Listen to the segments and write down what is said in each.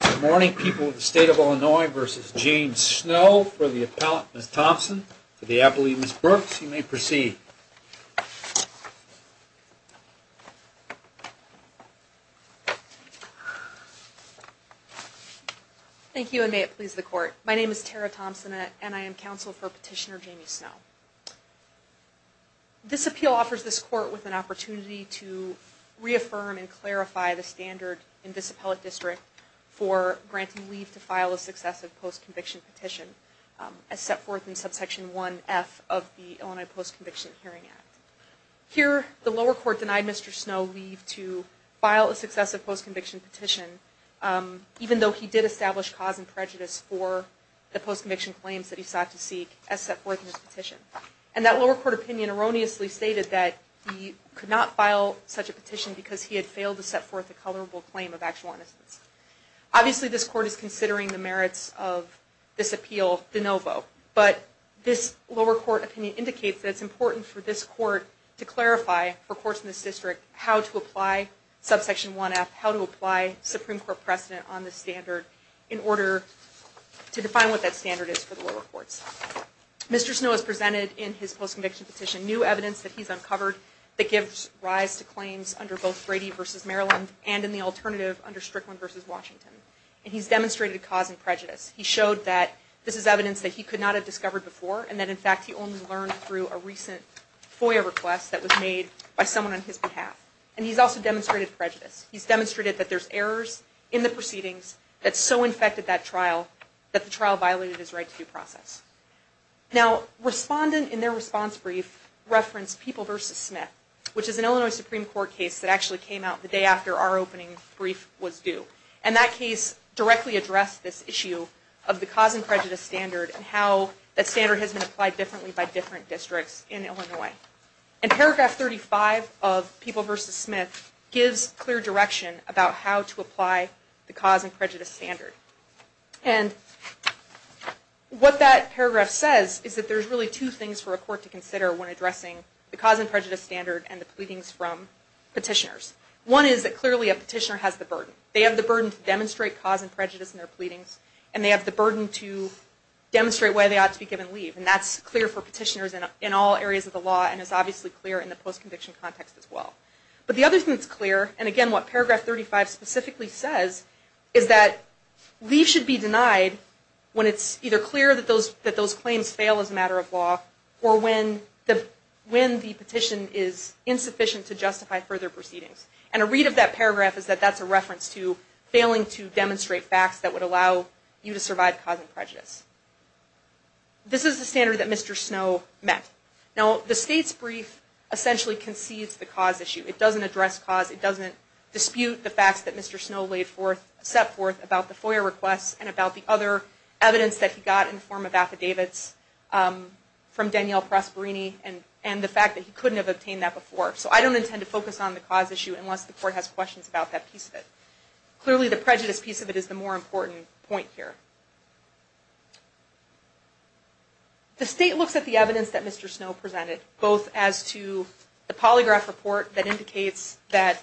Good morning people of the state of Illinois versus James Snow for the appellant, Ms. Thompson, for the appellee, Ms. Brooks. You may proceed. Thank you and may it please the court. My name is Tara Thompson and I am counsel for petitioner Jamie Snow. This appeal offers this court with an opportunity to reaffirm and clarify the standard in this appellate district for granting leave to file a successive post-conviction petition as set forth in subsection 1F of the Illinois Post-Conviction Hearing Act. Here, the lower court denied Mr. Snow leave to file a successive post-conviction petition even though he did establish cause and prejudice for the post-conviction claims that he sought to seek as set forth in his petition. And that lower court opinion erroneously stated that he could not file such a petition because he had failed to set forth a colorable claim of actual innocence. Obviously this court is considering the merits of this appeal de novo, but this lower court opinion indicates that it's important for this court to clarify for courts in this district how to apply subsection 1F, how to apply Supreme Court precedent on this standard in order to define what that standard is for the lower courts. Mr. Snow has presented in his post-conviction petition new evidence that he's uncovered that gives rise to claims under both Brady v. Maryland and in the alternative under Strickland v. Washington. And he's demonstrated cause and prejudice. He showed that this is evidence that he could not have discovered before and that in fact he only learned through a recent FOIA request that was made by someone on his behalf. And he's also demonstrated prejudice. He's demonstrated that there's errors in the proceedings that so infected that trial that the trial violated his right to due process. Now, respondent in their response brief referenced People v. Smith, which is an Illinois Supreme Court case that actually came out the day after our opening brief was due. And that case directly addressed this issue of the cause and prejudice standard and how that standard has been applied differently by different districts in Illinois. And paragraph 35 of People v. Smith gives clear direction about how to apply the cause and prejudice standard. And what that paragraph says is that there's really two things for a court to consider when addressing the cause and prejudice standard and the pleadings from petitioners. One is that clearly a petitioner has the burden. They have the burden to demonstrate cause and prejudice in their pleadings and they have the burden to demonstrate why they ought to be given leave. And that's clear for petitioners in all areas of the law and is obviously clear in the post-conviction context as well. But the other thing that's clear, and again what paragraph 35 specifically says, is that leave should be denied when it's either clear that those claims fail as a matter of law or when the petition is insufficient to justify further proceedings. And a read of that paragraph is that that's a reference to failing to demonstrate facts that would allow you to survive cause and prejudice. This is the standard that Mr. Snow met. Now the state's brief essentially concedes the cause issue. It doesn't address cause. It doesn't dispute the facts that Mr. Snow set forth about the FOIA requests and about the other evidence that he got in the form of affidavits from Danielle Prosperini and the fact that he couldn't have obtained that before. So I don't intend to focus on the cause issue unless the court has questions about that piece of it. Clearly the prejudice piece of it is the more important point here. The state looks at the evidence that Mr. Snow presented, both as to the polygraph report that indicates that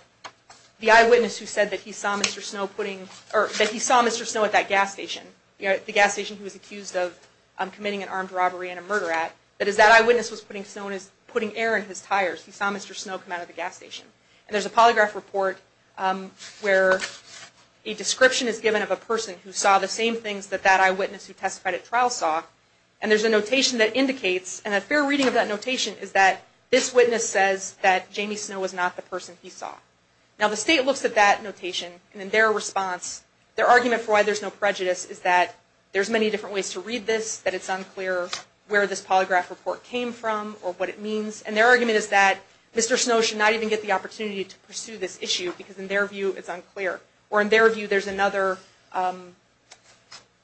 the eyewitness who said that he saw Mr. Snow at that gas station, the gas station he was accused of committing an armed robbery and a murder at, that is that eyewitness was putting air in his tires. He saw Mr. Snow come out of the gas station. And there's a polygraph report where a description is given of a person who saw the same things that that eyewitness who testified at trial saw. And there's a notation that indicates, and a fair reading of that notation is that this witness says that Jamie Snow was not the person he saw. Now the state looks at that notation and in their response, their argument for why there's no prejudice is that there's many different ways to read this, that it's unclear where this polygraph report came from or what it means. And their argument is that Mr. Snow should not even get the opportunity to pursue this issue because in their view it's unclear. Or in their view there's another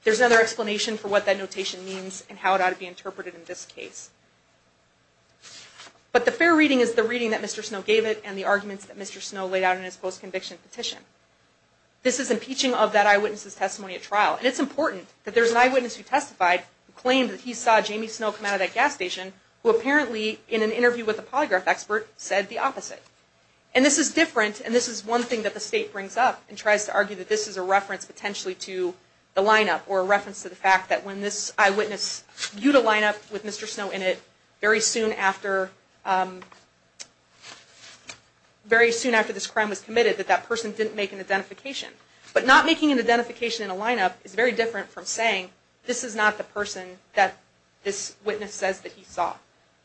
explanation for what that notation means and how it ought to be interpreted in this case. But the fair reading is the reading that Mr. Snow gave it and the arguments that Mr. Snow laid out in his post-conviction petition. This is impeaching of that eyewitness's testimony at trial. And it's important that there's an eyewitness who testified, who claimed that he saw Jamie Snow come out of that gas station who apparently in an interview with a polygraph expert said the opposite. And this is different and this is one thing that the state brings up and tries to argue that this is a reference potentially to the lineup or a reference to the fact that when this eyewitness viewed a lineup with Mr. Snow in it, very soon after this crime was committed that that person didn't make an identification. But not making an identification in a lineup is very different from saying this is not the person that this witness says that he saw.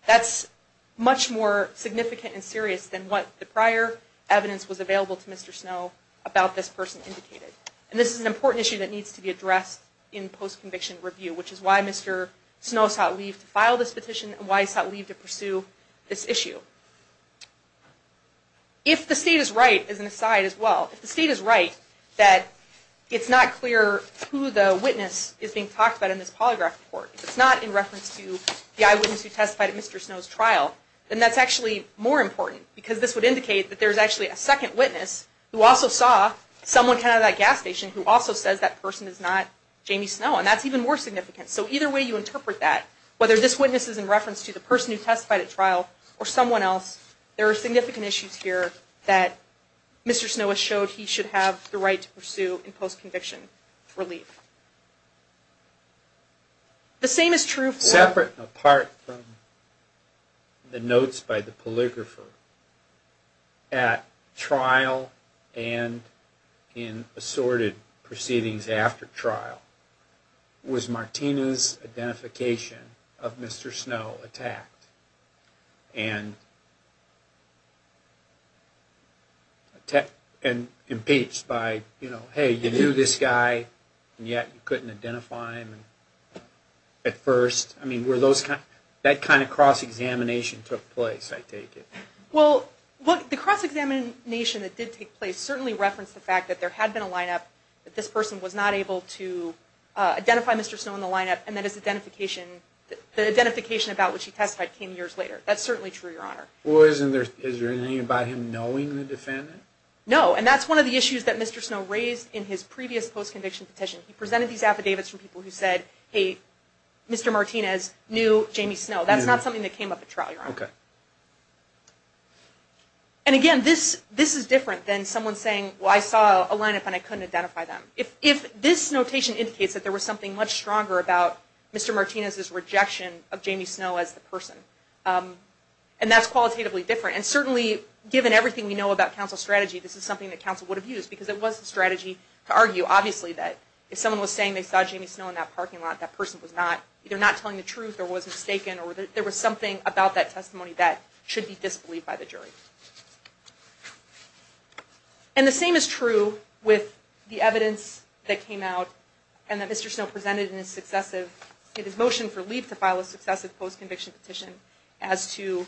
That's much more significant and serious than what the prior evidence was available to Mr. Snow about this person indicated. And this is an important issue that needs to be addressed in post-conviction review, which is why Mr. Snow sought leave to file this petition and why he sought leave to pursue this issue. If the state is right, as an aside as well, if the state is right that it's not clear who the witness is being talked about in this polygraph report, if it's not in reference to the eyewitness who testified at Mr. Snow's trial, then that's actually more important because this would indicate that there's actually a second witness who also saw someone come out of that gas station who also says that person is not Jamie Snow and that's even more significant. So either way you interpret that, whether this witness is in reference to the person who testified at trial or someone else, there are significant issues here that Mr. Snow has showed he should have the right to pursue in post-conviction relief. Separate and apart from the notes by the polygrapher, at trial and in assorted proceedings after trial, was Martina's identification of Mr. Snow attacked and impeached by, you know, hey, you knew this guy and yet you couldn't identify him at first? That kind of cross-examination took place, I take it. Well, the cross-examination that did take place certainly referenced the fact that there had been a lineup, that this person was not able to identify Mr. Snow in the lineup and that his identification, the identification about which he testified came years later. That's certainly true, Your Honor. Well, is there anything about him knowing the defendant? No, and that's one of the issues that Mr. Snow raised in his previous post-conviction petition. He presented these affidavits from people who said, hey, Mr. Martinez knew Jamie Snow. That's not something that came up at trial, Your Honor. Okay. And again, this is different than someone saying, well, I saw a lineup and I couldn't identify them. If this notation indicates that there was something much stronger about Mr. Martinez's rejection of Jamie Snow as the person, and that's qualitatively different, and certainly given everything we know about counsel strategy, this is something that counsel would have used because it was the strategy to argue, obviously, that if someone was saying they saw Jamie Snow in that parking lot, that person was not, they're not telling the truth or was mistaken or there was something about that testimony that should be disbelieved by the jury. And the same is true with the evidence that came out and that Mr. Snow presented in his successive, in his motion for leave to file a successive post-conviction petition as to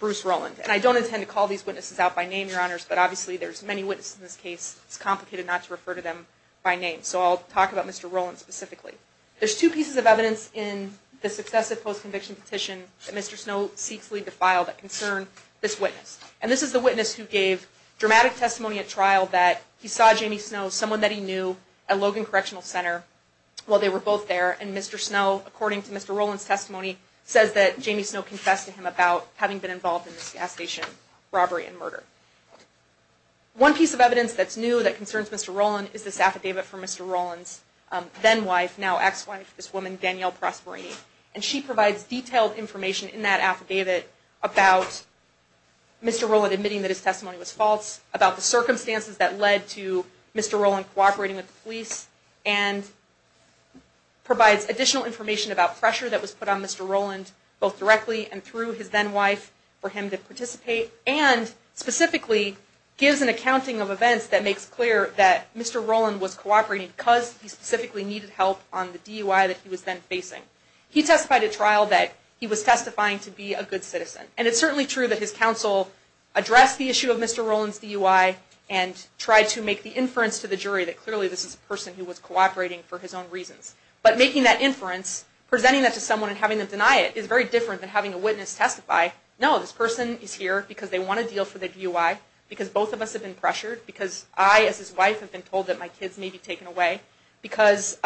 Bruce Rowland. And I don't intend to call these witnesses out by name, Your Honors, but obviously there's many witnesses in this case. It's complicated not to refer to them by name. So I'll talk about Mr. Rowland specifically. There's two pieces of evidence in the successive post-conviction petition that Mr. Snow seeks leave to file that concern this witness. And this is the witness who gave dramatic testimony at trial that he saw Jamie Snow, someone that he knew, at Logan Correctional Center while they were both there, and Mr. Snow, according to Mr. Rowland's testimony, says that Jamie Snow confessed to him about having been involved in this gas station robbery and murder. One piece of evidence that's new that concerns Mr. Rowland is this affidavit from Mr. Rowland's then-wife, now ex-wife, this woman Danielle Prosperini. And she provides detailed information in that affidavit about Mr. Rowland admitting that his testimony was false, about the circumstances that led to Mr. Rowland cooperating with the police, and provides additional information about pressure that was put on Mr. Rowland both directly and through his then-wife for him to participate, and specifically gives an accounting of events that makes clear that Mr. Rowland was cooperating because he specifically needed help on the DUI that he was then facing. He testified at trial that he was testifying to be a good citizen. And it's certainly true that his counsel addressed the issue of Mr. Rowland's DUI and tried to make the inference to the jury that clearly this is a person who was cooperating for his own reasons. But making that inference, presenting that to someone and having them deny it, is very different than having a witness testify, no, this person is here because they want a deal for their DUI, because both of us have been pressured, because I, as his wife, have been told that my kids may be taken away, because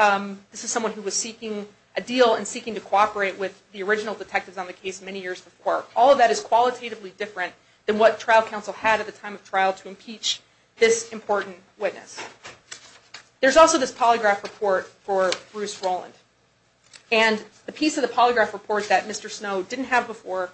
this is someone who was seeking a deal and seeking to cooperate with the original detectives on the case many years before. All of that is qualitatively different than what trial counsel had at the time of trial to impeach this important witness. There's also this polygraph report for Bruce Rowland. And the piece of the polygraph report that Mr. Snow didn't have before,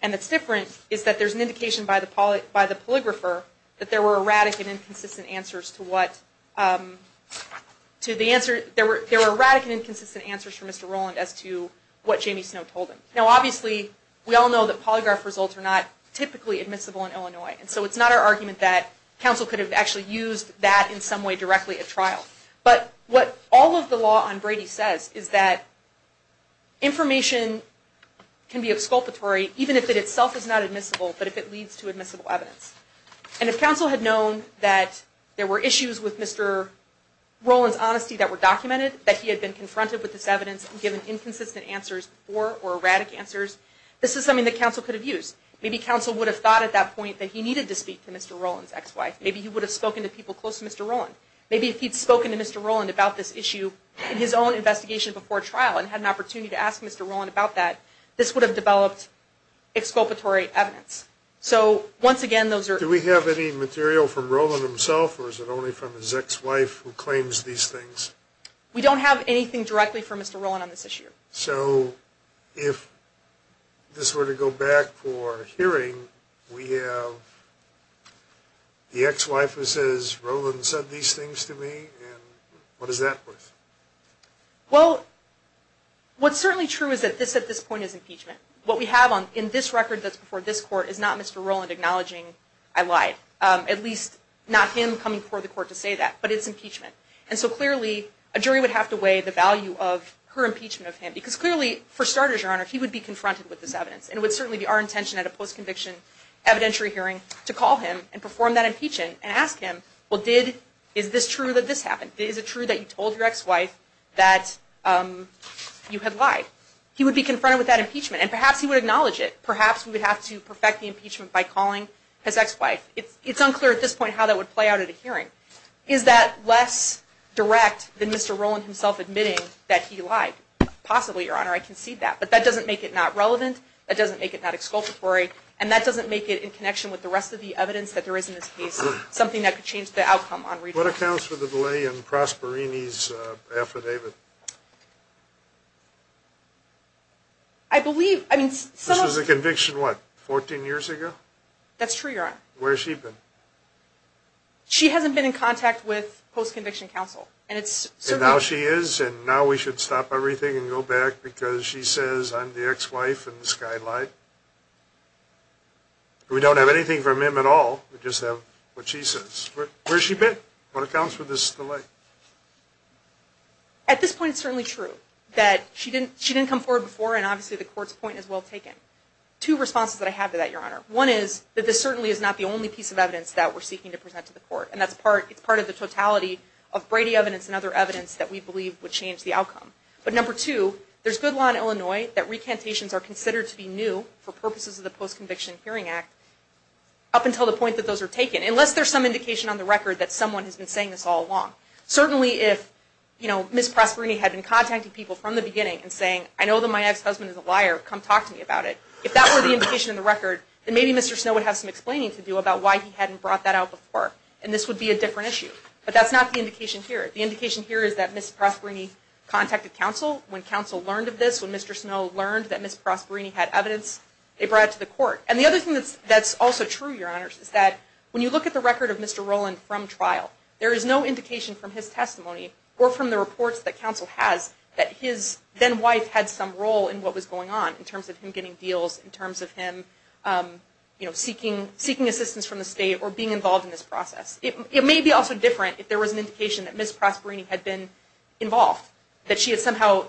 and it's different, is that there's an indication by the polygrapher that there were erratic and inconsistent answers to what, to the answer, there were erratic and inconsistent answers from Mr. Rowland as to what Jamie Snow told him. Now obviously, we all know that polygraph results are not typically admissible in Illinois. And so it's not our argument that counsel could have actually used that in some way directly at trial. But what all of the law on Brady says is that information can be exculpatory even if it itself is not admissible, but if it leads to admissible evidence. And if counsel had known that there were issues with Mr. Rowland's honesty that were documented, that he had been confronted with this evidence and given inconsistent answers or erratic answers, this is something that counsel could have used. Maybe counsel would have thought at that point that he needed to speak to Mr. Rowland's ex-wife. Maybe he would have spoken to people close to Mr. Rowland. Maybe if he'd spoken to Mr. Rowland about this issue in his own investigation before trial and had an opportunity to ask Mr. Rowland about that, this would have developed exculpatory evidence. So once again, those are... Do we have any material from Rowland himself or is it only from his ex-wife who claims these things? We don't have anything directly from Mr. Rowland on this issue. So if this were to go back for hearing, we have the ex-wife who says, Rowland said these things to me and what does that mean? Well, what's certainly true is that this at this point is impeachment. What we have in this record that's before this court is not Mr. Rowland acknowledging I lied. At least not him coming before the court to say that, but it's impeachment. And so clearly, a jury would have to weigh the value of her impeachment of him. Because clearly, for starters, Your Honor, he would be confronted with this evidence. And it would certainly be our intention at a post-conviction evidentiary hearing to call him and perform that impeachment and ask him, well, is this true that this happened? Is it true that you told your ex-wife that you had lied? He would be confronted with that impeachment and perhaps he would acknowledge it. Perhaps we would have to perfect the impeachment by calling his ex-wife. It's unclear at this point how that would play out at a hearing. Is that less direct than Mr. Rowland himself admitting that he lied? Possibly, Your Honor. I concede that. But that doesn't make it not relevant. That doesn't make it not exculpatory. And that doesn't make it in connection with the rest of the evidence that there is in this case. Something that could change the outcome. What accounts for the delay in Prosperini's affidavit? I believe. This was a conviction, what, 14 years ago? That's true, Your Honor. Where has she been? She hasn't been in contact with post-conviction counsel. And now she is, and now we should stop everything and go back because she says, I'm the ex-wife and this guy lied. We don't have anything from him at all. We just have what she says. Where has she been? What accounts for this delay? At this point, it's certainly true that she didn't come forward before, and obviously the court's point is well taken. Two responses that I have to that, Your Honor. One is that this certainly is not the only piece of evidence that we're seeking to present to the court, and it's part of the totality of Brady evidence and other evidence that we believe would change the outcome. But number two, there's good law in Illinois that recantations are considered to be new for purposes of the Post-Conviction Hearing Act up until the point that those are taken, unless there's some indication on the record that someone has been saying this all along. Certainly if Ms. Prosperini had been contacting people from the beginning and saying, I know that my ex-husband is a liar. Come talk to me about it. If that were the indication on the record, then maybe Mr. Snow would have some explaining to do about why he hadn't brought that out before. And this would be a different issue. But that's not the indication here. The indication here is that Ms. Prosperini contacted counsel. When counsel learned of this, when Mr. Snow learned that Ms. Prosperini had evidence, they brought it to the court. And the other thing that's also true, Your Honor, is that when you look at the record of Mr. Roland from trial, there is no indication from his testimony or from the reports that counsel has that his then-wife had some role in what was going on in terms of him getting deals, in terms of him seeking assistance from the state or being involved in this process. It may be also different if there was an indication that Ms. Prosperini had been involved, that she had somehow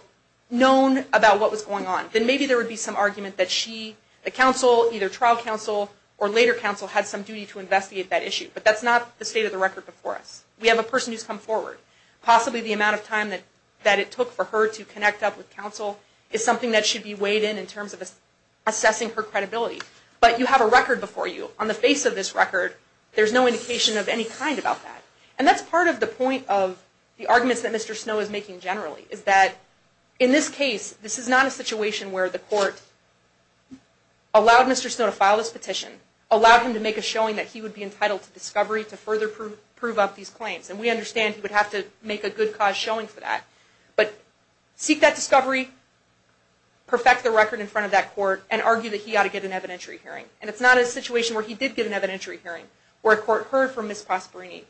known about what was going on. Then maybe there would be some argument that she, the counsel, either trial counsel or later counsel, had some duty to investigate that issue. But that's not the state of the record before us. We have a person who's come forward. Possibly the amount of time that it took for her to connect up with counsel is something that should be weighed in in terms of assessing her credibility. But you have a record before you. On the face of this record, there's no indication of any kind about that. And that's part of the point of the arguments that Mr. Snow is making generally, is that in this case, this is not a situation where the court allowed Mr. Snow to file this petition, allowed him to make a showing that he would be entitled to discovery to further prove up these claims. And we understand he would have to make a good cause showing for that. But seek that discovery, perfect the record in front of that court, and argue that he ought to get an evidentiary hearing. And it's not a situation where he did get an evidentiary hearing, where a court heard from Ms. Prosperini,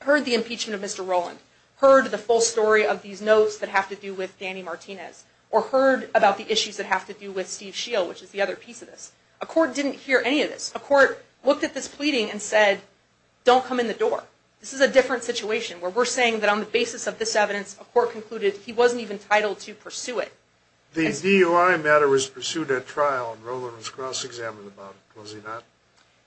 heard the impeachment of Mr. Rowland, heard the full story of these notes that have to do with Danny Martinez, or heard about the issues that have to do with Steve Scheel, which is the other piece of this. A court didn't hear any of this. A court looked at this pleading and said, don't come in the door. This is a different situation, where we're saying that on the basis of this evidence, a court concluded he wasn't even entitled to pursue it. The DUI matter was pursued at trial, and Rowland was cross-examined about it, was he not?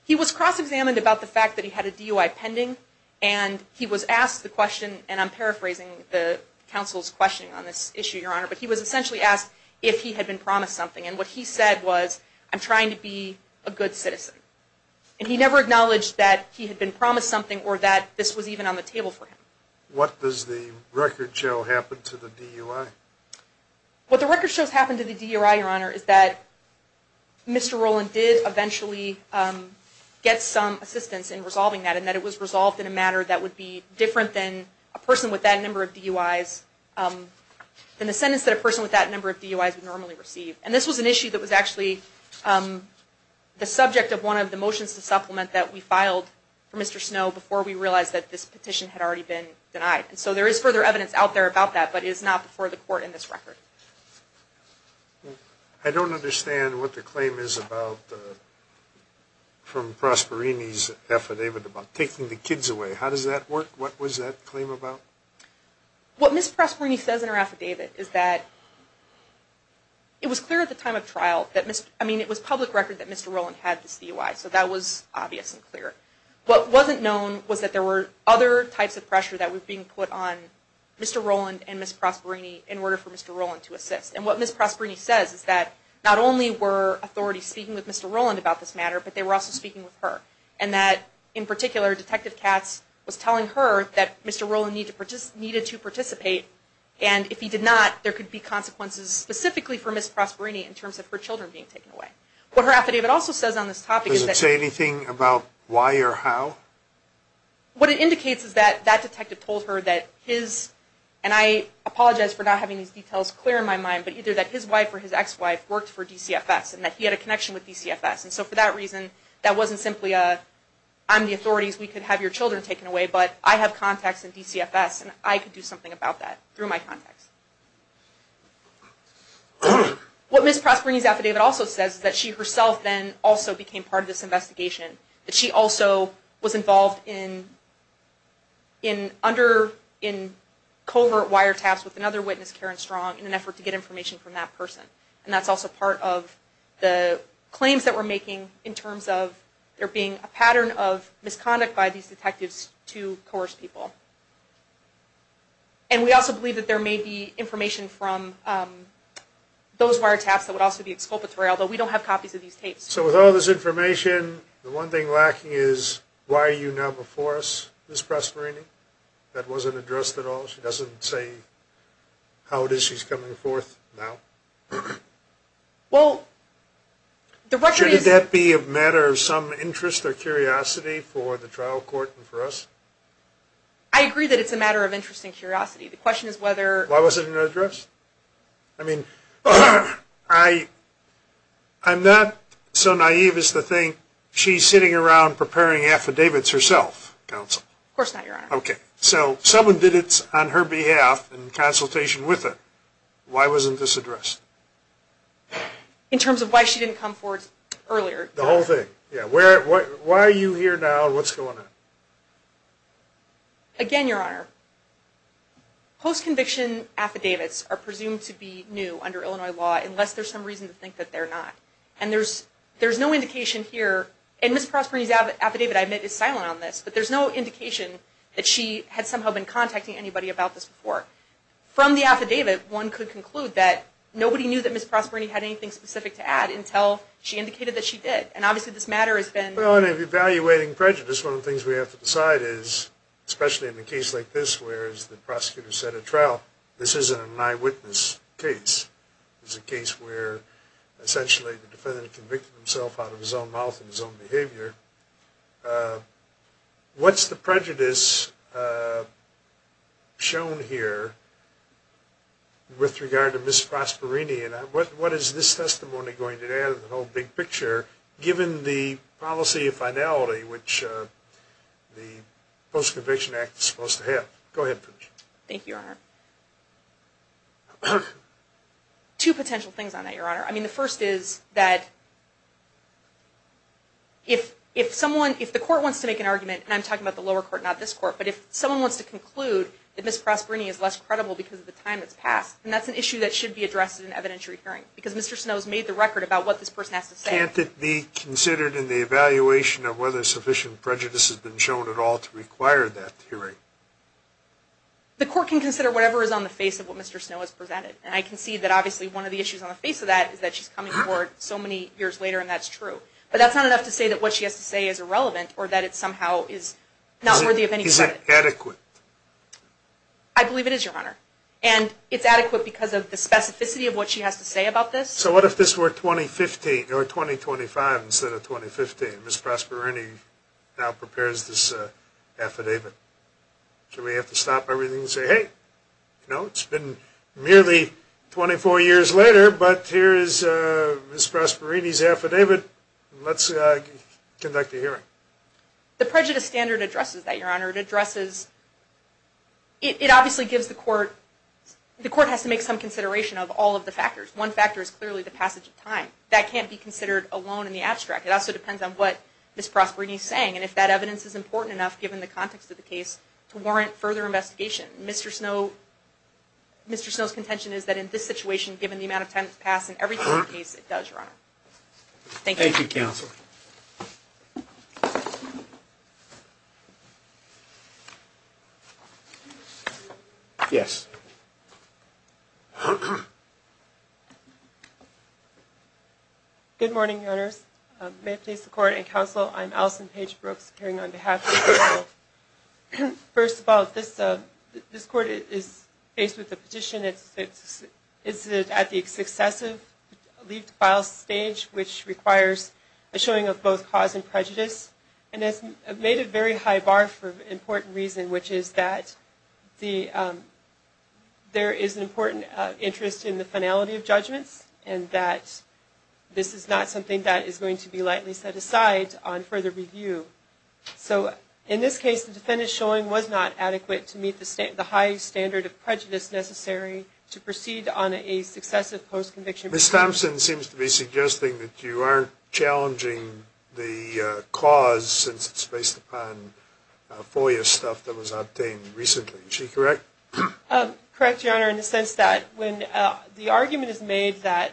He was cross-examined about the fact that he had a DUI pending, and he was asked the question, and I'm paraphrasing the counsel's question on this issue, Your Honor, but he was essentially asked if he had been promised something. And what he said was, I'm trying to be a good citizen. And he never acknowledged that he had been promised something, or that this was even on the table for him. What does the record show happened to the DUI? What the record shows happened to the DUI, Your Honor, is that Mr. Rowland did eventually get some assistance in resolving that, and that it was resolved in a matter that would be different than a person with that number of DUIs, than the sentence that a person with that number of DUIs would normally receive. And this was an issue that was actually the subject of one of the motions to supplement that we filed for Mr. Snow before we realized that this petition had already been denied. And so there is further evidence out there about that, but it is not before the court in this record. I don't understand what the claim is from Prosperini's affidavit about taking the kids away. How does that work? What was that claim about? What Ms. Prosperini says in her affidavit is that it was clear at the time of trial, I mean it was public record that Mr. Rowland had this DUI, so that was obvious and clear. What wasn't known was that there were other types of pressure that were being put on Mr. Rowland and Ms. Prosperini in order for Mr. Rowland to assist. And what Ms. Prosperini says is that not only were authorities speaking with Mr. Rowland about this matter, but they were also speaking with her. And that in particular, Detective Katz was telling her that Mr. Rowland needed to participate, and if he did not, there could be consequences specifically for Ms. Prosperini in terms of her children being taken away. What her affidavit also says on this topic is that... Does it say anything about why or how? What it indicates is that that detective told her that his, and I apologize for not having these details clear in my mind, but either that his wife or his ex-wife worked for DCFS and that he had a connection with DCFS. And so for that reason, that wasn't simply a... I'm the authorities, we could have your children taken away, but I have contacts in DCFS and I could do something about that through my contacts. What Ms. Prosperini's affidavit also says is that she herself then also became part of this investigation. She also was involved in covert wiretaps with another witness, Karen Strong, in an effort to get information from that person. And that's also part of the claims that we're making in terms of there being a pattern of misconduct by these detectives to coerce people. And we also believe that there may be information from those wiretaps that would also be exculpatory, although we don't have copies of these tapes. So with all this information, the one thing lacking is, why are you now before us, Ms. Prosperini? That wasn't addressed at all. She doesn't say how it is she's coming forth now? Well, the record is... Shouldn't that be a matter of some interest or curiosity for the trial court and for us? I agree that it's a matter of interest and curiosity. The question is whether... Why wasn't it addressed? I mean, I'm not so naive as to think she's sitting around preparing affidavits herself, counsel. Of course not, Your Honor. Okay, so someone did it on her behalf in consultation with her. Why wasn't this addressed? In terms of why she didn't come forth earlier. The whole thing, yeah. Why are you here now and what's going on? Again, Your Honor, post-conviction affidavits are presumed to be new under Illinois law unless there's some reason to think that they're not. And there's no indication here... And Ms. Prosperini's affidavit, I admit, is silent on this, but there's no indication that she had somehow been contacting anybody about this before. From the affidavit, one could conclude that nobody knew that Ms. Prosperini had anything specific to add until she indicated that she did. And obviously this matter has been... Well, in evaluating prejudice, one of the things we have to decide is, especially in a case like this where, as the prosecutor said at trial, this isn't an eyewitness case. This is a case where, essentially, the defendant convicted himself out of his own mouth and his own behavior. What's the prejudice shown here with regard to Ms. Prosperini? And what is this testimony going to add to the whole big picture, given the policy of finality which the Post-Conviction Act is supposed to have? Go ahead. Thank you, Your Honor. Two potential things on that, Your Honor. I mean, the first is that if someone, if the court wants to make an argument, and I'm talking about the lower court, not this court, but if someone wants to conclude that Ms. Prosperini is less credible because of the time that's passed, then that's an issue that should be addressed in an evidentiary hearing, because Mr. Snow has made the record about what this person has to say. Can't it be considered in the evaluation of whether sufficient prejudice has been shown at all to require that hearing? The court can consider whatever is on the face of what Mr. Snow has presented. And I can see that, obviously, one of the issues on the face of that is that she's coming forward so many years later, and that's true. But that's not enough to say that what she has to say is irrelevant or that it somehow is not worthy of any credit. Is it adequate? I believe it is, Your Honor. And it's adequate because of the specificity of what she has to say about this. So what if this were 2015, or 2025 instead of 2015? Ms. Prosperini now prepares this affidavit. Should we have to stop everything and say, hey, you know, it's been merely 24 years later, but here is Ms. Prosperini's affidavit, and let's conduct a hearing. The prejudice standard addresses that, Your Honor. It addresses – it obviously gives the court – the court has to make some consideration of all of the factors. One factor is clearly the passage of time. That can't be considered alone in the abstract. It also depends on what Ms. Prosperini is saying, and if that evidence is important enough given the context of the case to warrant further investigation. Mr. Snow – Mr. Snow's contention is that in this situation, given the amount of time that's passed in every court case, it does, Your Honor. Thank you. Thank you, counsel. Yes. Yes. Good morning, Your Honors. May it please the court and counsel, I'm Allison Page Brooks, appearing on behalf of the counsel. First of all, this court is faced with a petition. It's at the successive leafed file stage, which requires a showing of both cause and prejudice, and it's made a very high bar for an important reason, which is that there is an important interest in the finality of judgments and that this is not something that is going to be lightly set aside on further review. So in this case, the defendant's showing was not adequate to meet the high standard of prejudice necessary to proceed on a successive post-conviction. Ms. Thompson seems to be suggesting that you aren't challenging the cause since it's based upon FOIA stuff that was obtained recently. Is she correct? Correct, Your Honor, in the sense that when the argument is made that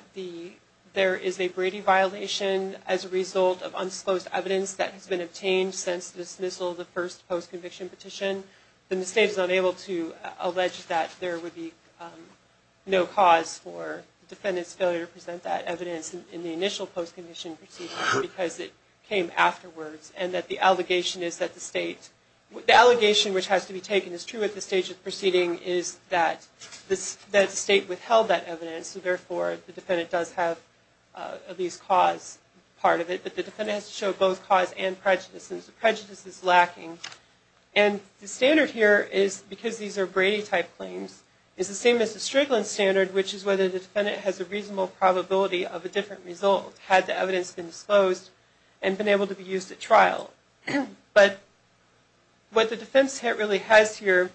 there is a Brady violation as a result of unsupposed evidence that has been obtained since the dismissal of the first post-conviction petition, then the State is unable to allege that there would be no cause for the defendant's failure to present that evidence in the initial post-conviction proceedings because it came afterwards, and that the allegation is that the State... The allegation which has to be taken as true at the stage of proceeding is that the State withheld that evidence, and therefore the defendant does have at least cause part of it, but the defendant has to show both cause and prejudice since the prejudice is lacking. And the standard here is, because these are Brady-type claims, is the same as the Strickland standard, which is whether the defendant has a reasonable probability of a different result had the evidence been disclosed and been able to be used at trial. But what the defense really has here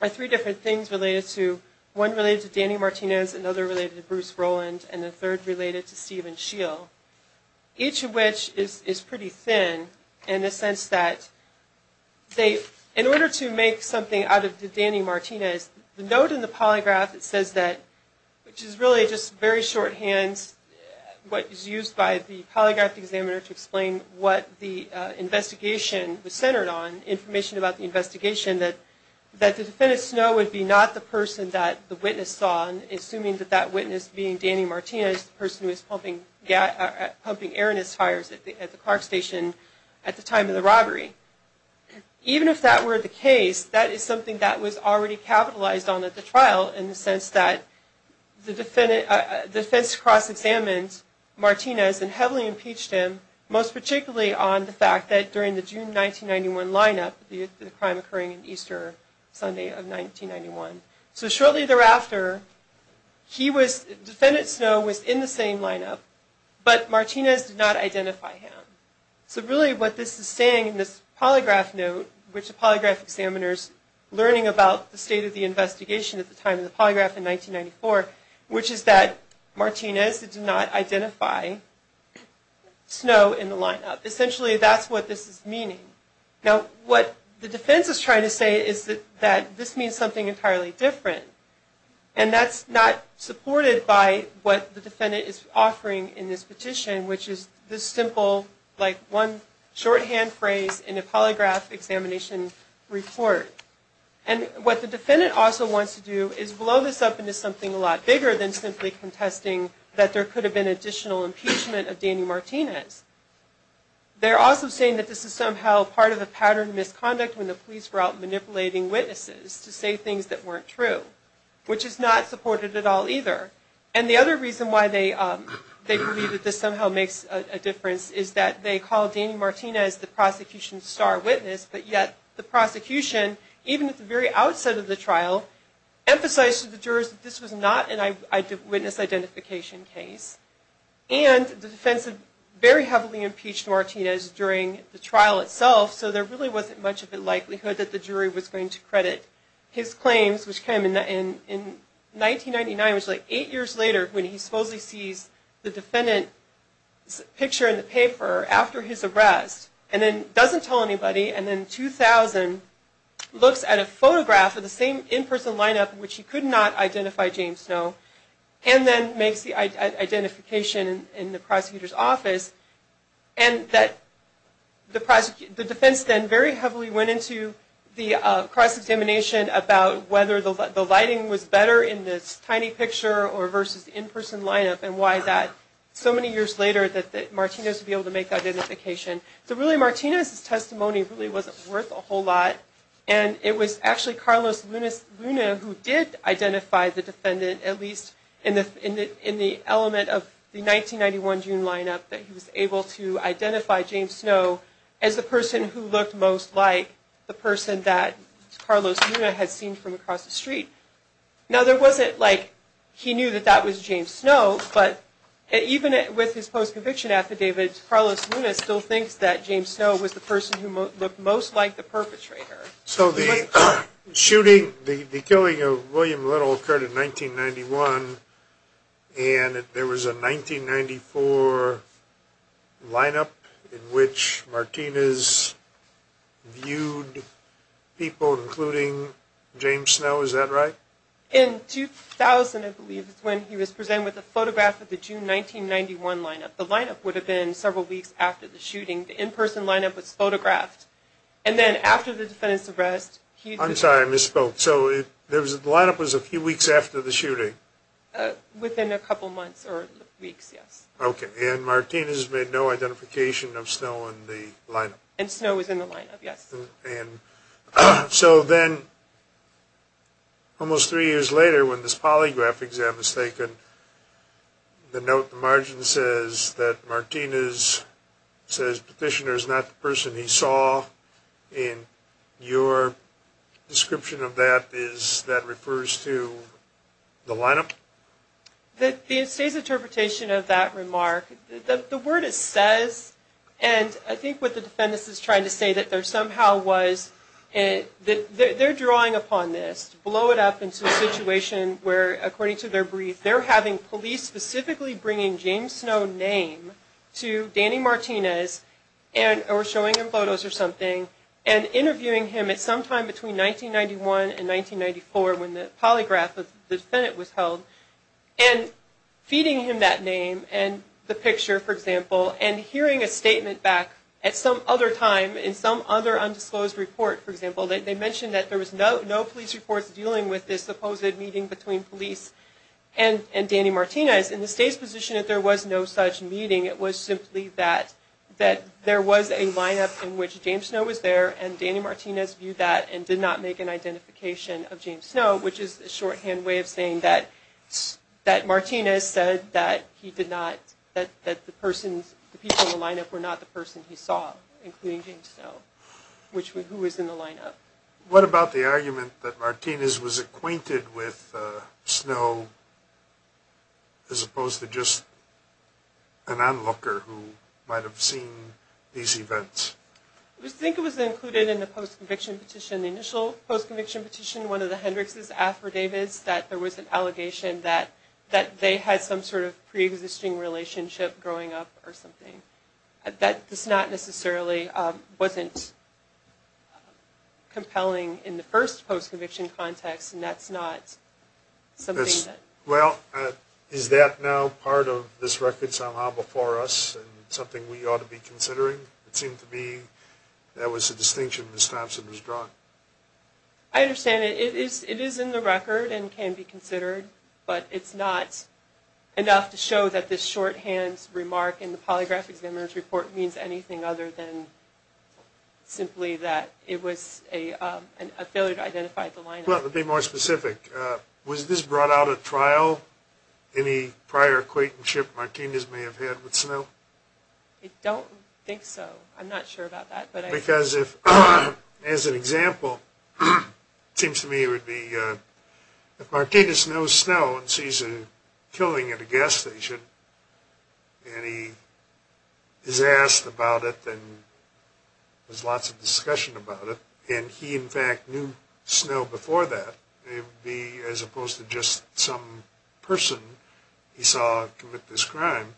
are three different things related to... One related to Danny Martinez, another related to Bruce Rowland, and the third related to Stephen Scheel, each of which is pretty thin in the sense that they... In order to make something out of Danny Martinez, the note in the polygraph that says that... Which is really just very shorthand what is used by the polygraph examiner to explain what the investigation was centered on, information about the investigation, that the defendant's know would be not the person that the witness saw, assuming that that witness being Danny Martinez, the person who was pumping air in his tires at the car station at the time of the robbery. Even if that were the case, that is something that was already capitalized on at the trial, in the sense that the defense cross-examined Martinez and heavily impeached him, most particularly on the fact that during the June 1991 lineup, the crime occurring on Easter Sunday of 1991. So shortly thereafter, the defendant's know was in the same lineup, but Martinez did not identify him. So really what this is saying in this polygraph note, which the polygraph examiner is learning about the state of the investigation at the time of the polygraph in 1994, which is that Martinez did not identify Snow in the lineup. Essentially that's what this is meaning. Now what the defense is trying to say is that this means something entirely different. And that's not supported by what the defendant is offering in this petition, which is this simple, like one shorthand phrase in a polygraph examination report. And what the defendant also wants to do is blow this up into something a lot bigger than simply contesting that there could have been additional impeachment of Danny Martinez. They're also saying that this is somehow part of the pattern of misconduct when the police were out manipulating witnesses to say things that weren't true, which is not supported at all either. And the other reason why they believe that this somehow makes a difference is that they call Danny Martinez the prosecution's star witness, but yet the prosecution, even at the very outset of the trial, emphasized to the jurors that this was not a witness identification case. And the defense had very heavily impeached Martinez during the trial itself, so there really wasn't much of a likelihood that the jury was going to credit his claims, which came in 1999, which is like eight years later, when he supposedly sees the defendant's picture in the paper after his arrest, and then doesn't tell anybody, and then in 2000, looks at a photograph of the same in-person lineup in which he could not identify James Snow, and then makes the identification in the prosecutor's office, and that the defense then very heavily went into the cross-examination about whether the lighting was better in this tiny picture or versus the in-person lineup, and why that, so many years later, that Martinez would be able to make that identification. So really, Martinez's testimony really wasn't worth a whole lot, and it was actually Carlos Luna who did identify the defendant, at least in the element of the 1991 June lineup, that he was able to identify James Snow as the person who looked most like the person that Carlos Luna had seen from across the street. Now, there wasn't, like, he knew that that was James Snow, but even with his post-conviction affidavit, Carlos Luna still thinks that James Snow was the person who looked most like the perpetrator. So the shooting, the killing of William Little occurred in 1991, and there was a 1994 lineup in which Martinez viewed people, including James Snow, is that right? In 2000, I believe, is when he was presented with a photograph of the June 1991 lineup. The lineup would have been several weeks after the shooting. The in-person lineup was photographed, and then after the defendant's arrest, he... I'm sorry, I misspoke. So the lineup was a few weeks after the shooting? Within a couple months or weeks, yes. Okay, and Martinez made no identification of Snow in the lineup? And Snow was in the lineup, yes. So then, almost three years later, when this polygraph exam is taken, the note in the margin says that Martinez says Petitioner is not the person he saw, and your description of that is that refers to the lineup? The state's interpretation of that remark, the word it says, and I think what the defendant is trying to say that there somehow was, they're drawing upon this to blow it up into a situation where, according to their brief, they're having police specifically bringing James Snow's name to Danny Martinez or showing him photos or something, and interviewing him at sometime between 1991 and 1994 when the polygraph of the defendant was held, and feeding him that name and the picture, for example, and hearing a statement back at some other time in some other undisclosed report, for example. They mentioned that there was no police reports dealing with this supposed meeting between police and Danny Martinez. In the state's position that there was no such meeting, it was simply that there was a lineup in which James Snow was there, and Danny Martinez viewed that and did not make an identification of James Snow, which is a shorthand way of saying that Martinez said that the people in the lineup were not the person he saw, including James Snow, who was in the lineup. What about the argument that Martinez was acquainted with Snow as opposed to just an onlooker who might have seen these events? I think it was included in the post-conviction petition, the initial post-conviction petition, one of the Hendricks' affidavits, that there was an allegation that they had some sort of pre-existing relationship growing up or something. That this not necessarily wasn't compelling in the first post-conviction context, and that's not something that... Well, is that now part of this record somehow before us and something we ought to be considering? It seemed to me that was a distinction Ms. Thompson has drawn. I understand it is in the record and can be considered, but it's not enough to show that this shorthand remark in the polygraph examiner's report means anything other than simply that it was a failure to identify the lineup. Well, to be more specific, was this brought out at trial? Any prior acquaintances Martinez may have had with Snow? I don't think so. I'm not sure about that. Because if, as an example, it seems to me it would be, if Martinez knows Snow and sees a killing at a gas station and he is asked about it and there's lots of discussion about it, and he in fact knew Snow before that, it would be, as opposed to just some person he saw commit this crime,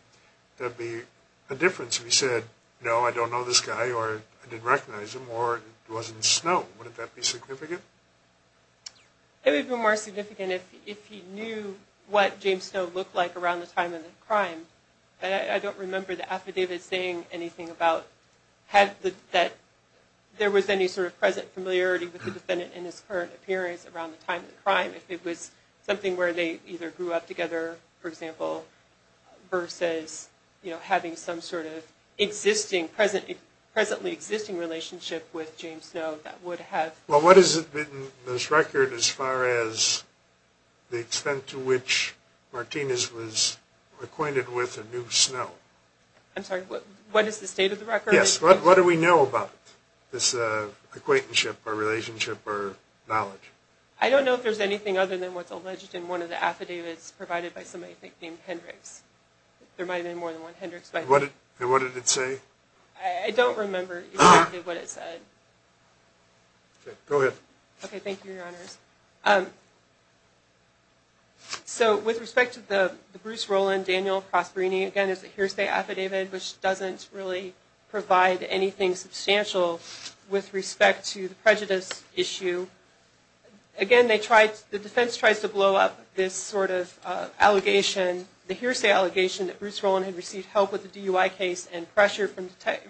that would be a difference if he said, no, I don't know this guy or I didn't recognize him or it wasn't Snow. Would that be significant? It would be more significant if he knew what James Snow looked like around the time of the crime. I don't remember the affidavit saying anything about that there was any sort of present familiarity with the defendant in his current appearance around the time of the crime. If it was something where they either grew up together, for example, versus having some sort of presently existing relationship with James Snow, that would have... Well, what is it in this record as far as the extent to which Martinez was acquainted with a new Snow? I'm sorry, what is the state of the record? Yes, what do we know about this acquaintanceship or relationship or knowledge? I don't know if there's anything other than what's alleged in one of the affidavits provided by somebody I think named Hendricks. There might have been more than one Hendricks. What did it say? I don't remember exactly what it said. Okay, go ahead. Okay, thank you, Your Honors. So with respect to the Bruce Rowland-Daniel Prosperini, again, it's a hearsay affidavit, which doesn't really provide anything substantial with respect to the prejudice issue. Again, the defense tries to blow up this sort of allegation, the hearsay allegation, that Bruce Rowland had received help with the DUI case and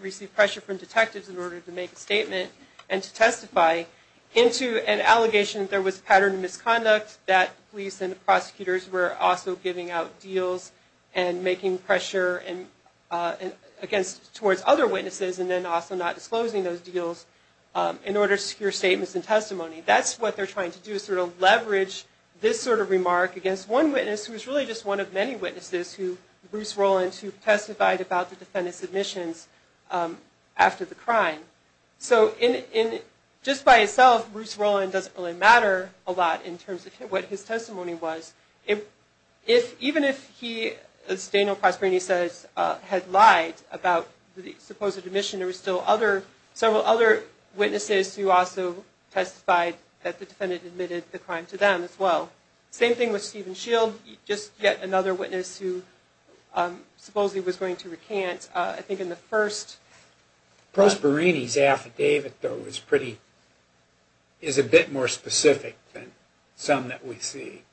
received pressure from detectives in order to make a statement and to testify into an allegation that there was patterned misconduct, that police and prosecutors were also giving out deals and making pressure towards other witnesses and then also not disclosing those deals in order to secure statements and testimony. That's what they're trying to do is sort of leverage this sort of remark against one witness who was really just one of many witnesses who, Bruce Rowland, who testified about the defendant's admissions after the crime. So just by itself, Bruce Rowland doesn't really matter a lot in terms of what his testimony was. Even if he, as Daniel Prosperini says, had lied about the supposed admission, there were still several other witnesses who also testified that the defendant admitted the crime to them as well. Same thing with Stephen Shield, just yet another witness who supposedly was going to recant. I think in the first... Prosperini's affidavit, though, is a bit more specific than some that we see.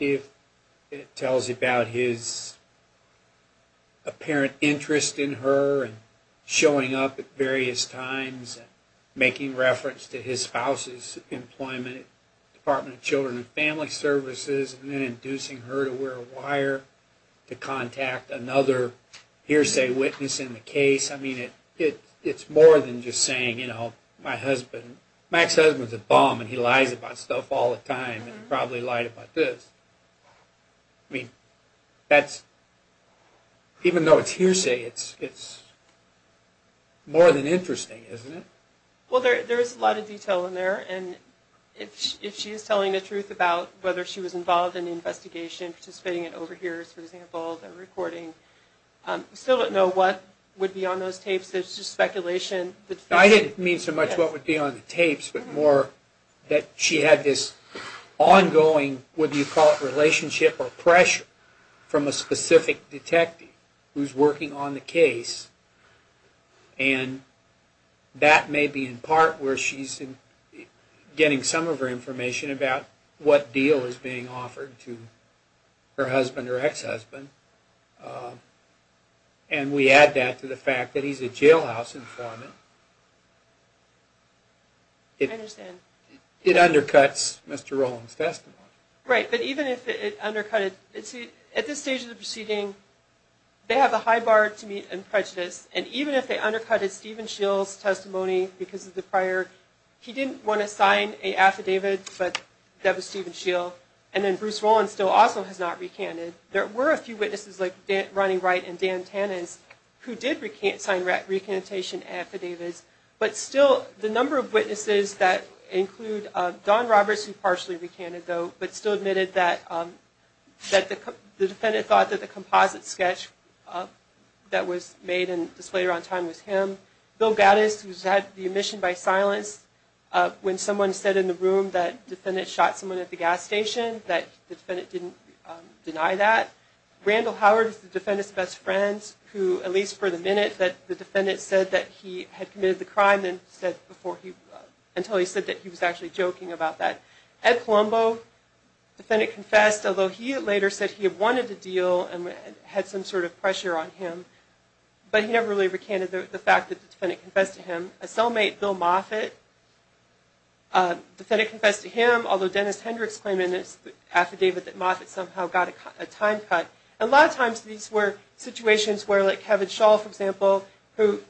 It tells about his apparent interest in her and showing up at various times and making reference to his spouse's employment at the Department of Children and Family Services and then inducing her to wear a wire to contact another hearsay witness in the case. I mean, it's more than just saying, you know, my husband, Mac's husband's a bum and he lies about stuff all the time and probably lied about this. Even though it's hearsay, it's more than interesting, isn't it? Well, there is a lot of detail in there, and if she is telling the truth about whether she was involved in the investigation, participating in overhears, for example, the recording, we still don't know what would be on those tapes. There's just speculation. I didn't mean so much what would be on the tapes, but more that she had this ongoing, whether you call it relationship or pressure, from a specific detective who's working on the case, and that may be in part where she's getting some of her information about what deal is being offered to her husband or ex-husband. And we add that to the fact that he's a jailhouse informant. I understand. It undercuts Mr. Rowland's testimony. At this stage of the proceeding, they have a high bar to meet in prejudice, and even if they are not recanted, there were a few witnesses like Ronnie Wright and Dan Tannins who did sign recantation affidavits, but still the number of witnesses that include Don Roberts, who partially recanted, but still admitted that the defendant thought that the composite sketch that was made and displayed around time was him. Bill Gattis, who's had the impression that it was someone at the gas station, that the defendant didn't deny that. Randall Howard is the defendant's best friend, who, at least for the minute, that the defendant said that he had committed the crime, until he said that he was actually joking about that. Ed Colombo, the defendant confessed, although he later said he had wanted the deal and had some sort of pressure on him, but he never really recanted the fact that the defendant confessed to him. A cellmate, Bill Moffitt, the defendant confessed to him, although Dennis Hendricks claimed in his affidavit that Moffitt somehow got a time cut. A lot of times these were situations where, like Kevin Shull, for example, who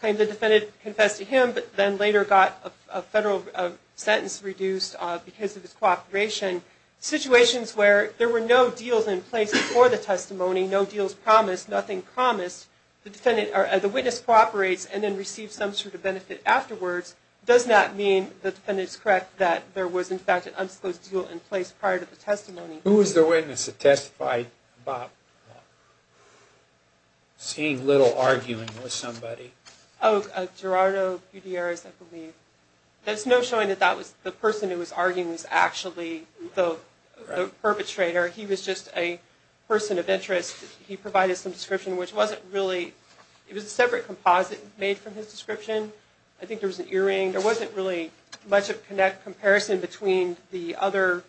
claimed the defendant confessed to him, but then later got a federal sentence reduced because of his cooperation. Situations where there were no deals in place before the testimony, no deals promised, nothing promised, the witness cooperates and then receives some sort of benefit afterwards, does not mean the defendant is correct that there was in fact an unsupposed deal in place prior to the testimony. Who was the witness that testified about seeing little arguing with somebody? Oh, Gerardo Pudieres, I believe. There's no showing that the person who was arguing was actually the perpetrator. He was just a person of interest. He provided some description which wasn't really, it was a separate composite made from his description. I think there was an earring. There wasn't really much of a comparison between the other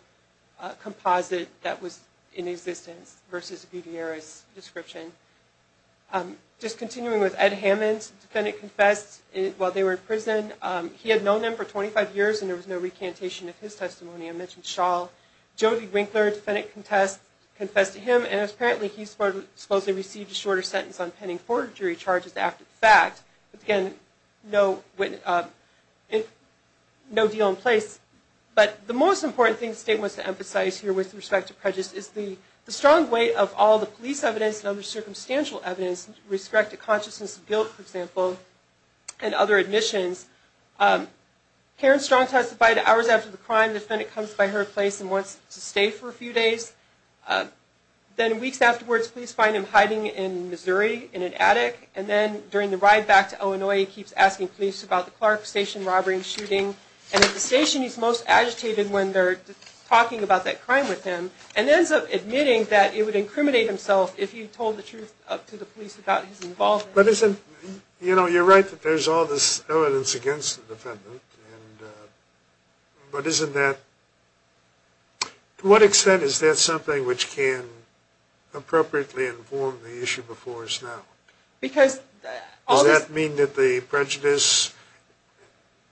composite that was in existence versus Pudieres' description. Just continuing with Ed Hammond, the defendant confessed while they were in prison. He had known them for 25 years and there was no recantation of his testimony. I mentioned Shull. Jody Winkler, defendant, confessed to him and apparently he supposedly received a shorter sentence on pending court jury charges after the fact. No deal in place. But the most important thing the statement wants to emphasize here with respect to prejudice is the strong weight of all the police evidence and other circumstantial evidence with respect to consciousness of guilt, for example, and other admissions. Karen Strong testified hours after the crime. The defendant comes by her place and wants to stay for a few days. Then weeks afterwards police find him hiding in Missouri in an attic. And then during the ride back to Illinois he keeps asking police about the Clark Station robbery and shooting. And at the station he's most agitated when they're talking about that crime with him and ends up admitting that he would incriminate himself if he told the truth to the police about his involvement. But isn't, you know, you're right that there's all this evidence against the defendant. But isn't that, to what extent is that something which can appropriately inform the issue before us now? Does that mean that the prejudice,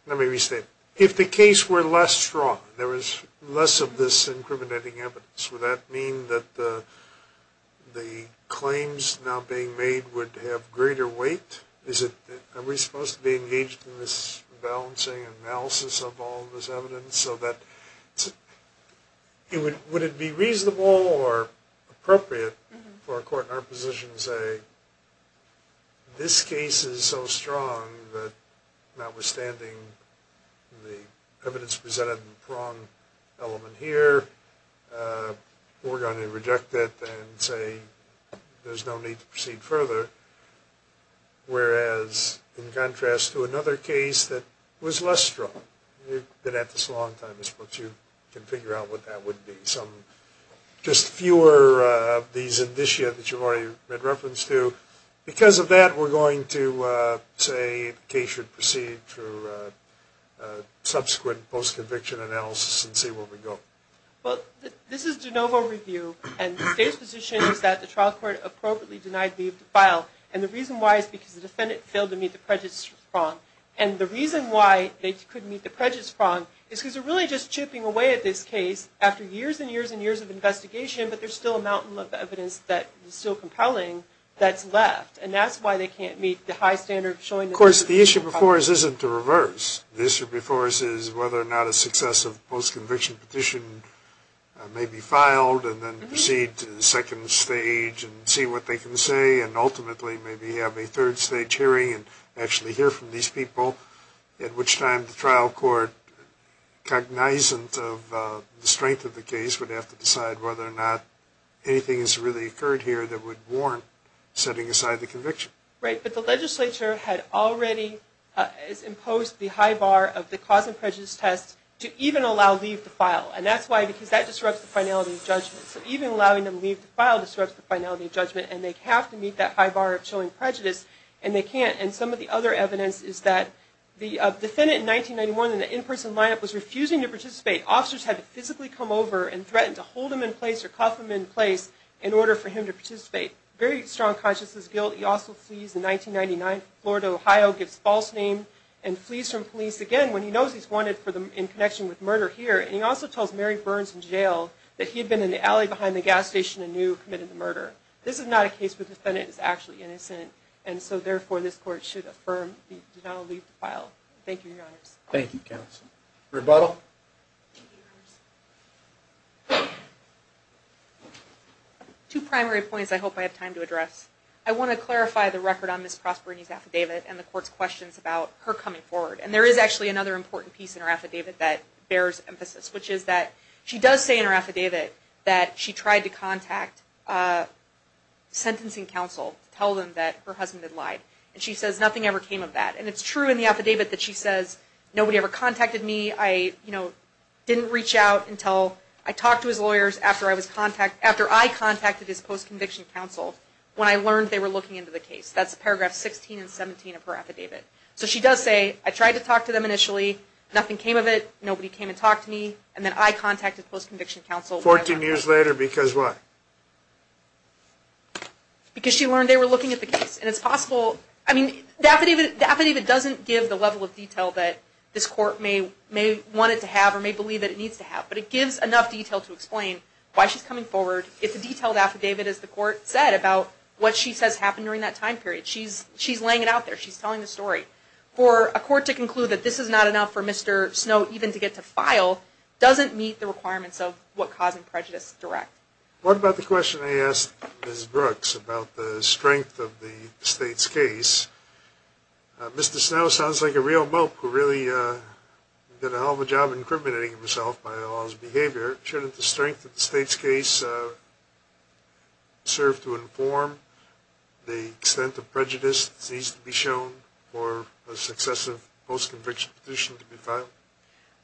let me restate, if the case were less strong, there was less of this incriminating evidence, would that mean that the claims now being made would have greater weight? Are we supposed to be engaged in this balancing analysis of all this evidence? Would it be reasonable or appropriate for a court in our position to say, this case is so strong that notwithstanding the evidence presented in the prong element here, we're going to reject it and say there's no need to proceed further. Whereas in contrast to another case that was less strong, you've been at this a long time, you can figure out what that would be. Just fewer of these indicia that you've already made reference to. Because of that, we're going to say the case should proceed through subsequent post-conviction analysis and see where we go. Well, this is de novo review, and the state's position is that the trial court appropriately denied leave to file. And the reason why is because the defendant failed to meet the prejudice prong. And the reason why they couldn't meet the prejudice prong is because they're really just chipping away at this case after years and years and years of investigation, but there's still a mountain of evidence that is still compelling that's left. And that's why they can't meet the high standard of showing the evidence. Of course, the issue before us isn't to reverse. The issue before us is whether or not a successive post-conviction petition may be filed and then proceed to the second stage and see what they can say and ultimately maybe have a third stage hearing and actually hear from these people. At which time the trial court, cognizant of the strength of the case, would have to decide whether or not anything has really occurred here that would warrant setting aside the conviction. Right. But the legislature had already imposed the high bar of the cause and prejudice test to even allow leave to file. And that's why, because that disrupts the finality of judgment. And they have to meet that high bar of showing prejudice, and they can't. And some of the other evidence is that the defendant in 1991 in the in-person lineup was refusing to participate. Officers had to physically come over and threaten to hold him in place or cuff him in place in order for him to participate. Very strong consciousness guilt. He also flees in 1999 from Florida, Ohio, gives false name, and flees from police again when he knows he's wanted in connection with murder here. And he also tells Mary Burns in jail that he had been in the alley behind the gas station and knew he committed the murder. This is not a case where the defendant is actually innocent, and so therefore this court should affirm the denial of leave to file. Thank you, Your Honors. Thank you, Counsel. Rebuttal? Two primary points I hope I have time to address. I want to clarify the record on Ms. Prosperini's affidavit and the court's questions about her coming forward. And there is actually another important piece in her affidavit that bears emphasis, which is that she does say in her affidavit that she tried to contact sentencing counsel to tell them that her husband had lied. And she says nothing ever came of that. And it's true in the affidavit that she says, nobody ever contacted me. I didn't reach out until I talked to his lawyers after I contacted his post-conviction counsel when I learned they were looking into the case. That's paragraph 16 and 17 of her affidavit. So she does say, I tried to talk to them initially, nothing came of it, nobody came and talked to me, and then I contacted post-conviction counsel. Fourteen years later because what? Because she learned they were looking at the case. The affidavit doesn't give the level of detail that this court may want it to have or may believe that it needs to have, but it gives enough detail to explain why she's coming forward. It's a detailed affidavit, as the court said, about what she says happened during that time period. She's laying it out there. She's telling the story. For a court to conclude that this is not enough for Mr. Snow even to get to file doesn't meet the requirements of what causing prejudice direct. What about the question I asked Ms. Brooks about the strength of the state's case? Mr. Snow sounds like a real mope who really did a hell of a job incriminating himself by all his behavior. Shouldn't the strength of the state's case serve to inform the extent of prejudice that needs to be shown for a successive post-conviction petition to be filed?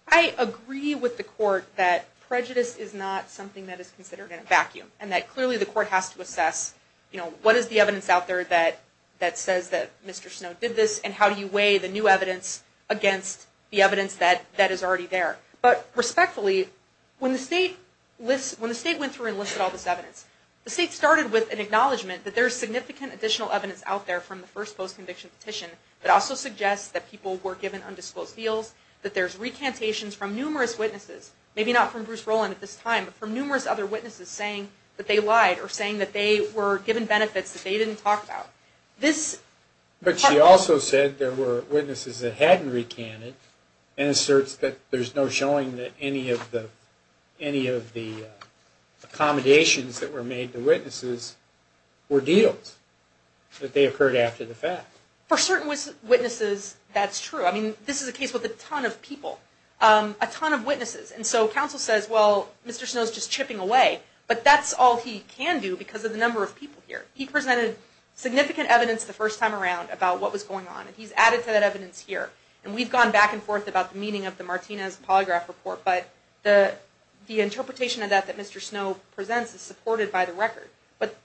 I agree with the court that prejudice is not something that is considered in a vacuum and that clearly the court has to assess what is the evidence out there that says that Mr. Snow did this and how do you weigh the new evidence against the evidence that is already there. But respectfully, when the state went through and listed all this evidence, the state started with an acknowledgment that there is significant additional evidence out there from the first post-conviction petition that also suggests that people were given undisclosed deals, that there's recantations from numerous witnesses, maybe not from Bruce Rowland at this time, but from numerous other witnesses saying that they lied or saying that they were given benefits that they didn't talk about. But she also said there were witnesses that hadn't recanted and asserts that there's no showing that any of the accommodations that were made to witnesses were deals, that they occurred after the fact. For certain witnesses, that's true. I mean, this is a case with a ton of people, a ton of witnesses. And so counsel says, well, Mr. Snow's just chipping away, but that's all he can do because of the number of people here. He presented significant evidence the first time around about what was going on and he's added to that evidence here. And we've gone back and forth about the meaning of the Martinez polygraph report, but the interpretation of that that Mr. Snow presents is supported by the record. But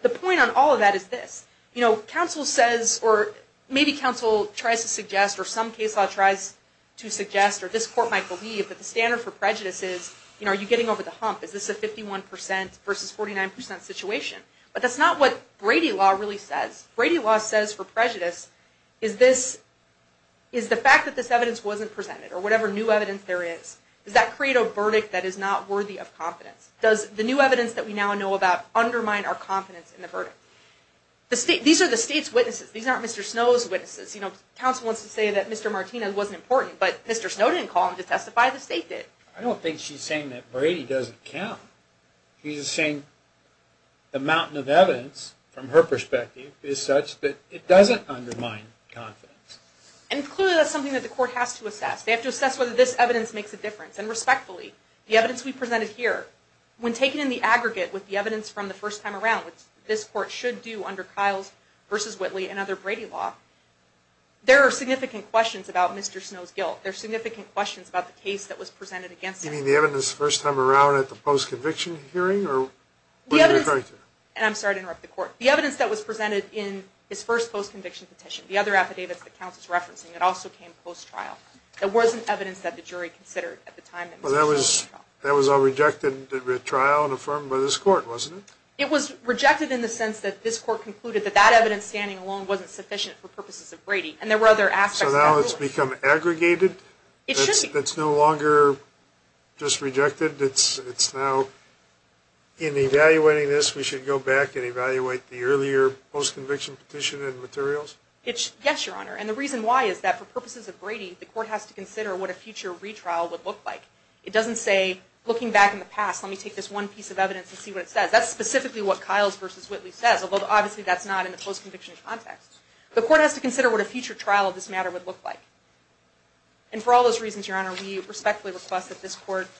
the point on all of that is this. You know, counsel says, or maybe counsel tries to suggest, or some case law tries to suggest, or this court might believe that the standard for prejudice is, you know, are you getting over the hump? Is this a 51 percent versus 49 percent situation? But that's not what Brady law really says. Brady law says for prejudice, is the fact that this evidence wasn't presented, or whatever new evidence there is, does that create a verdict that is not worthy of confidence? Does the new evidence that we now know about undermine our confidence in the verdict? These are the state's witnesses. These aren't Mr. Snow's witnesses. You know, counsel wants to say that Mr. Martinez wasn't important, but Mr. Snow didn't call him to testify, the state did. I don't think she's saying that Brady doesn't count. She's saying the mountain of evidence, from her perspective, is such that it doesn't undermine confidence. And clearly that's something that the court has to assess. They have to assess whether this evidence makes a difference. And respectfully, the evidence we presented here, when taken in the aggregate with the evidence from the first time around, which this court should do under Kyle's versus Whitley and other Brady law, there are significant questions about Mr. Snow's guilt. There are significant questions about the case that was presented against him. You mean the evidence the first time around at the post-conviction hearing? I'm sorry to interrupt the court. The evidence that was presented in his first post-conviction petition, the other affidavits that counsel is referencing, it also came post-trial. It wasn't evidence that the jury considered at the time. That was a rejected trial and affirmed by this court, wasn't it? It was rejected in the sense that this court concluded that that evidence standing alone wasn't sufficient for purposes of Brady. So now it's become aggregated? It's no longer just rejected? It's now, in evaluating this, we should go back and evaluate the earlier post-conviction petition and materials? Yes, Your Honor. And the reason why is that for purposes of Brady, the court has to consider what a future retrial would look like. It doesn't say, looking back in the past, let me take this one piece of evidence and see what it says. That's specifically what Kyles v. Whitley says, although obviously that's not in the post-conviction context. The court has to consider what a future trial of this matter would look like.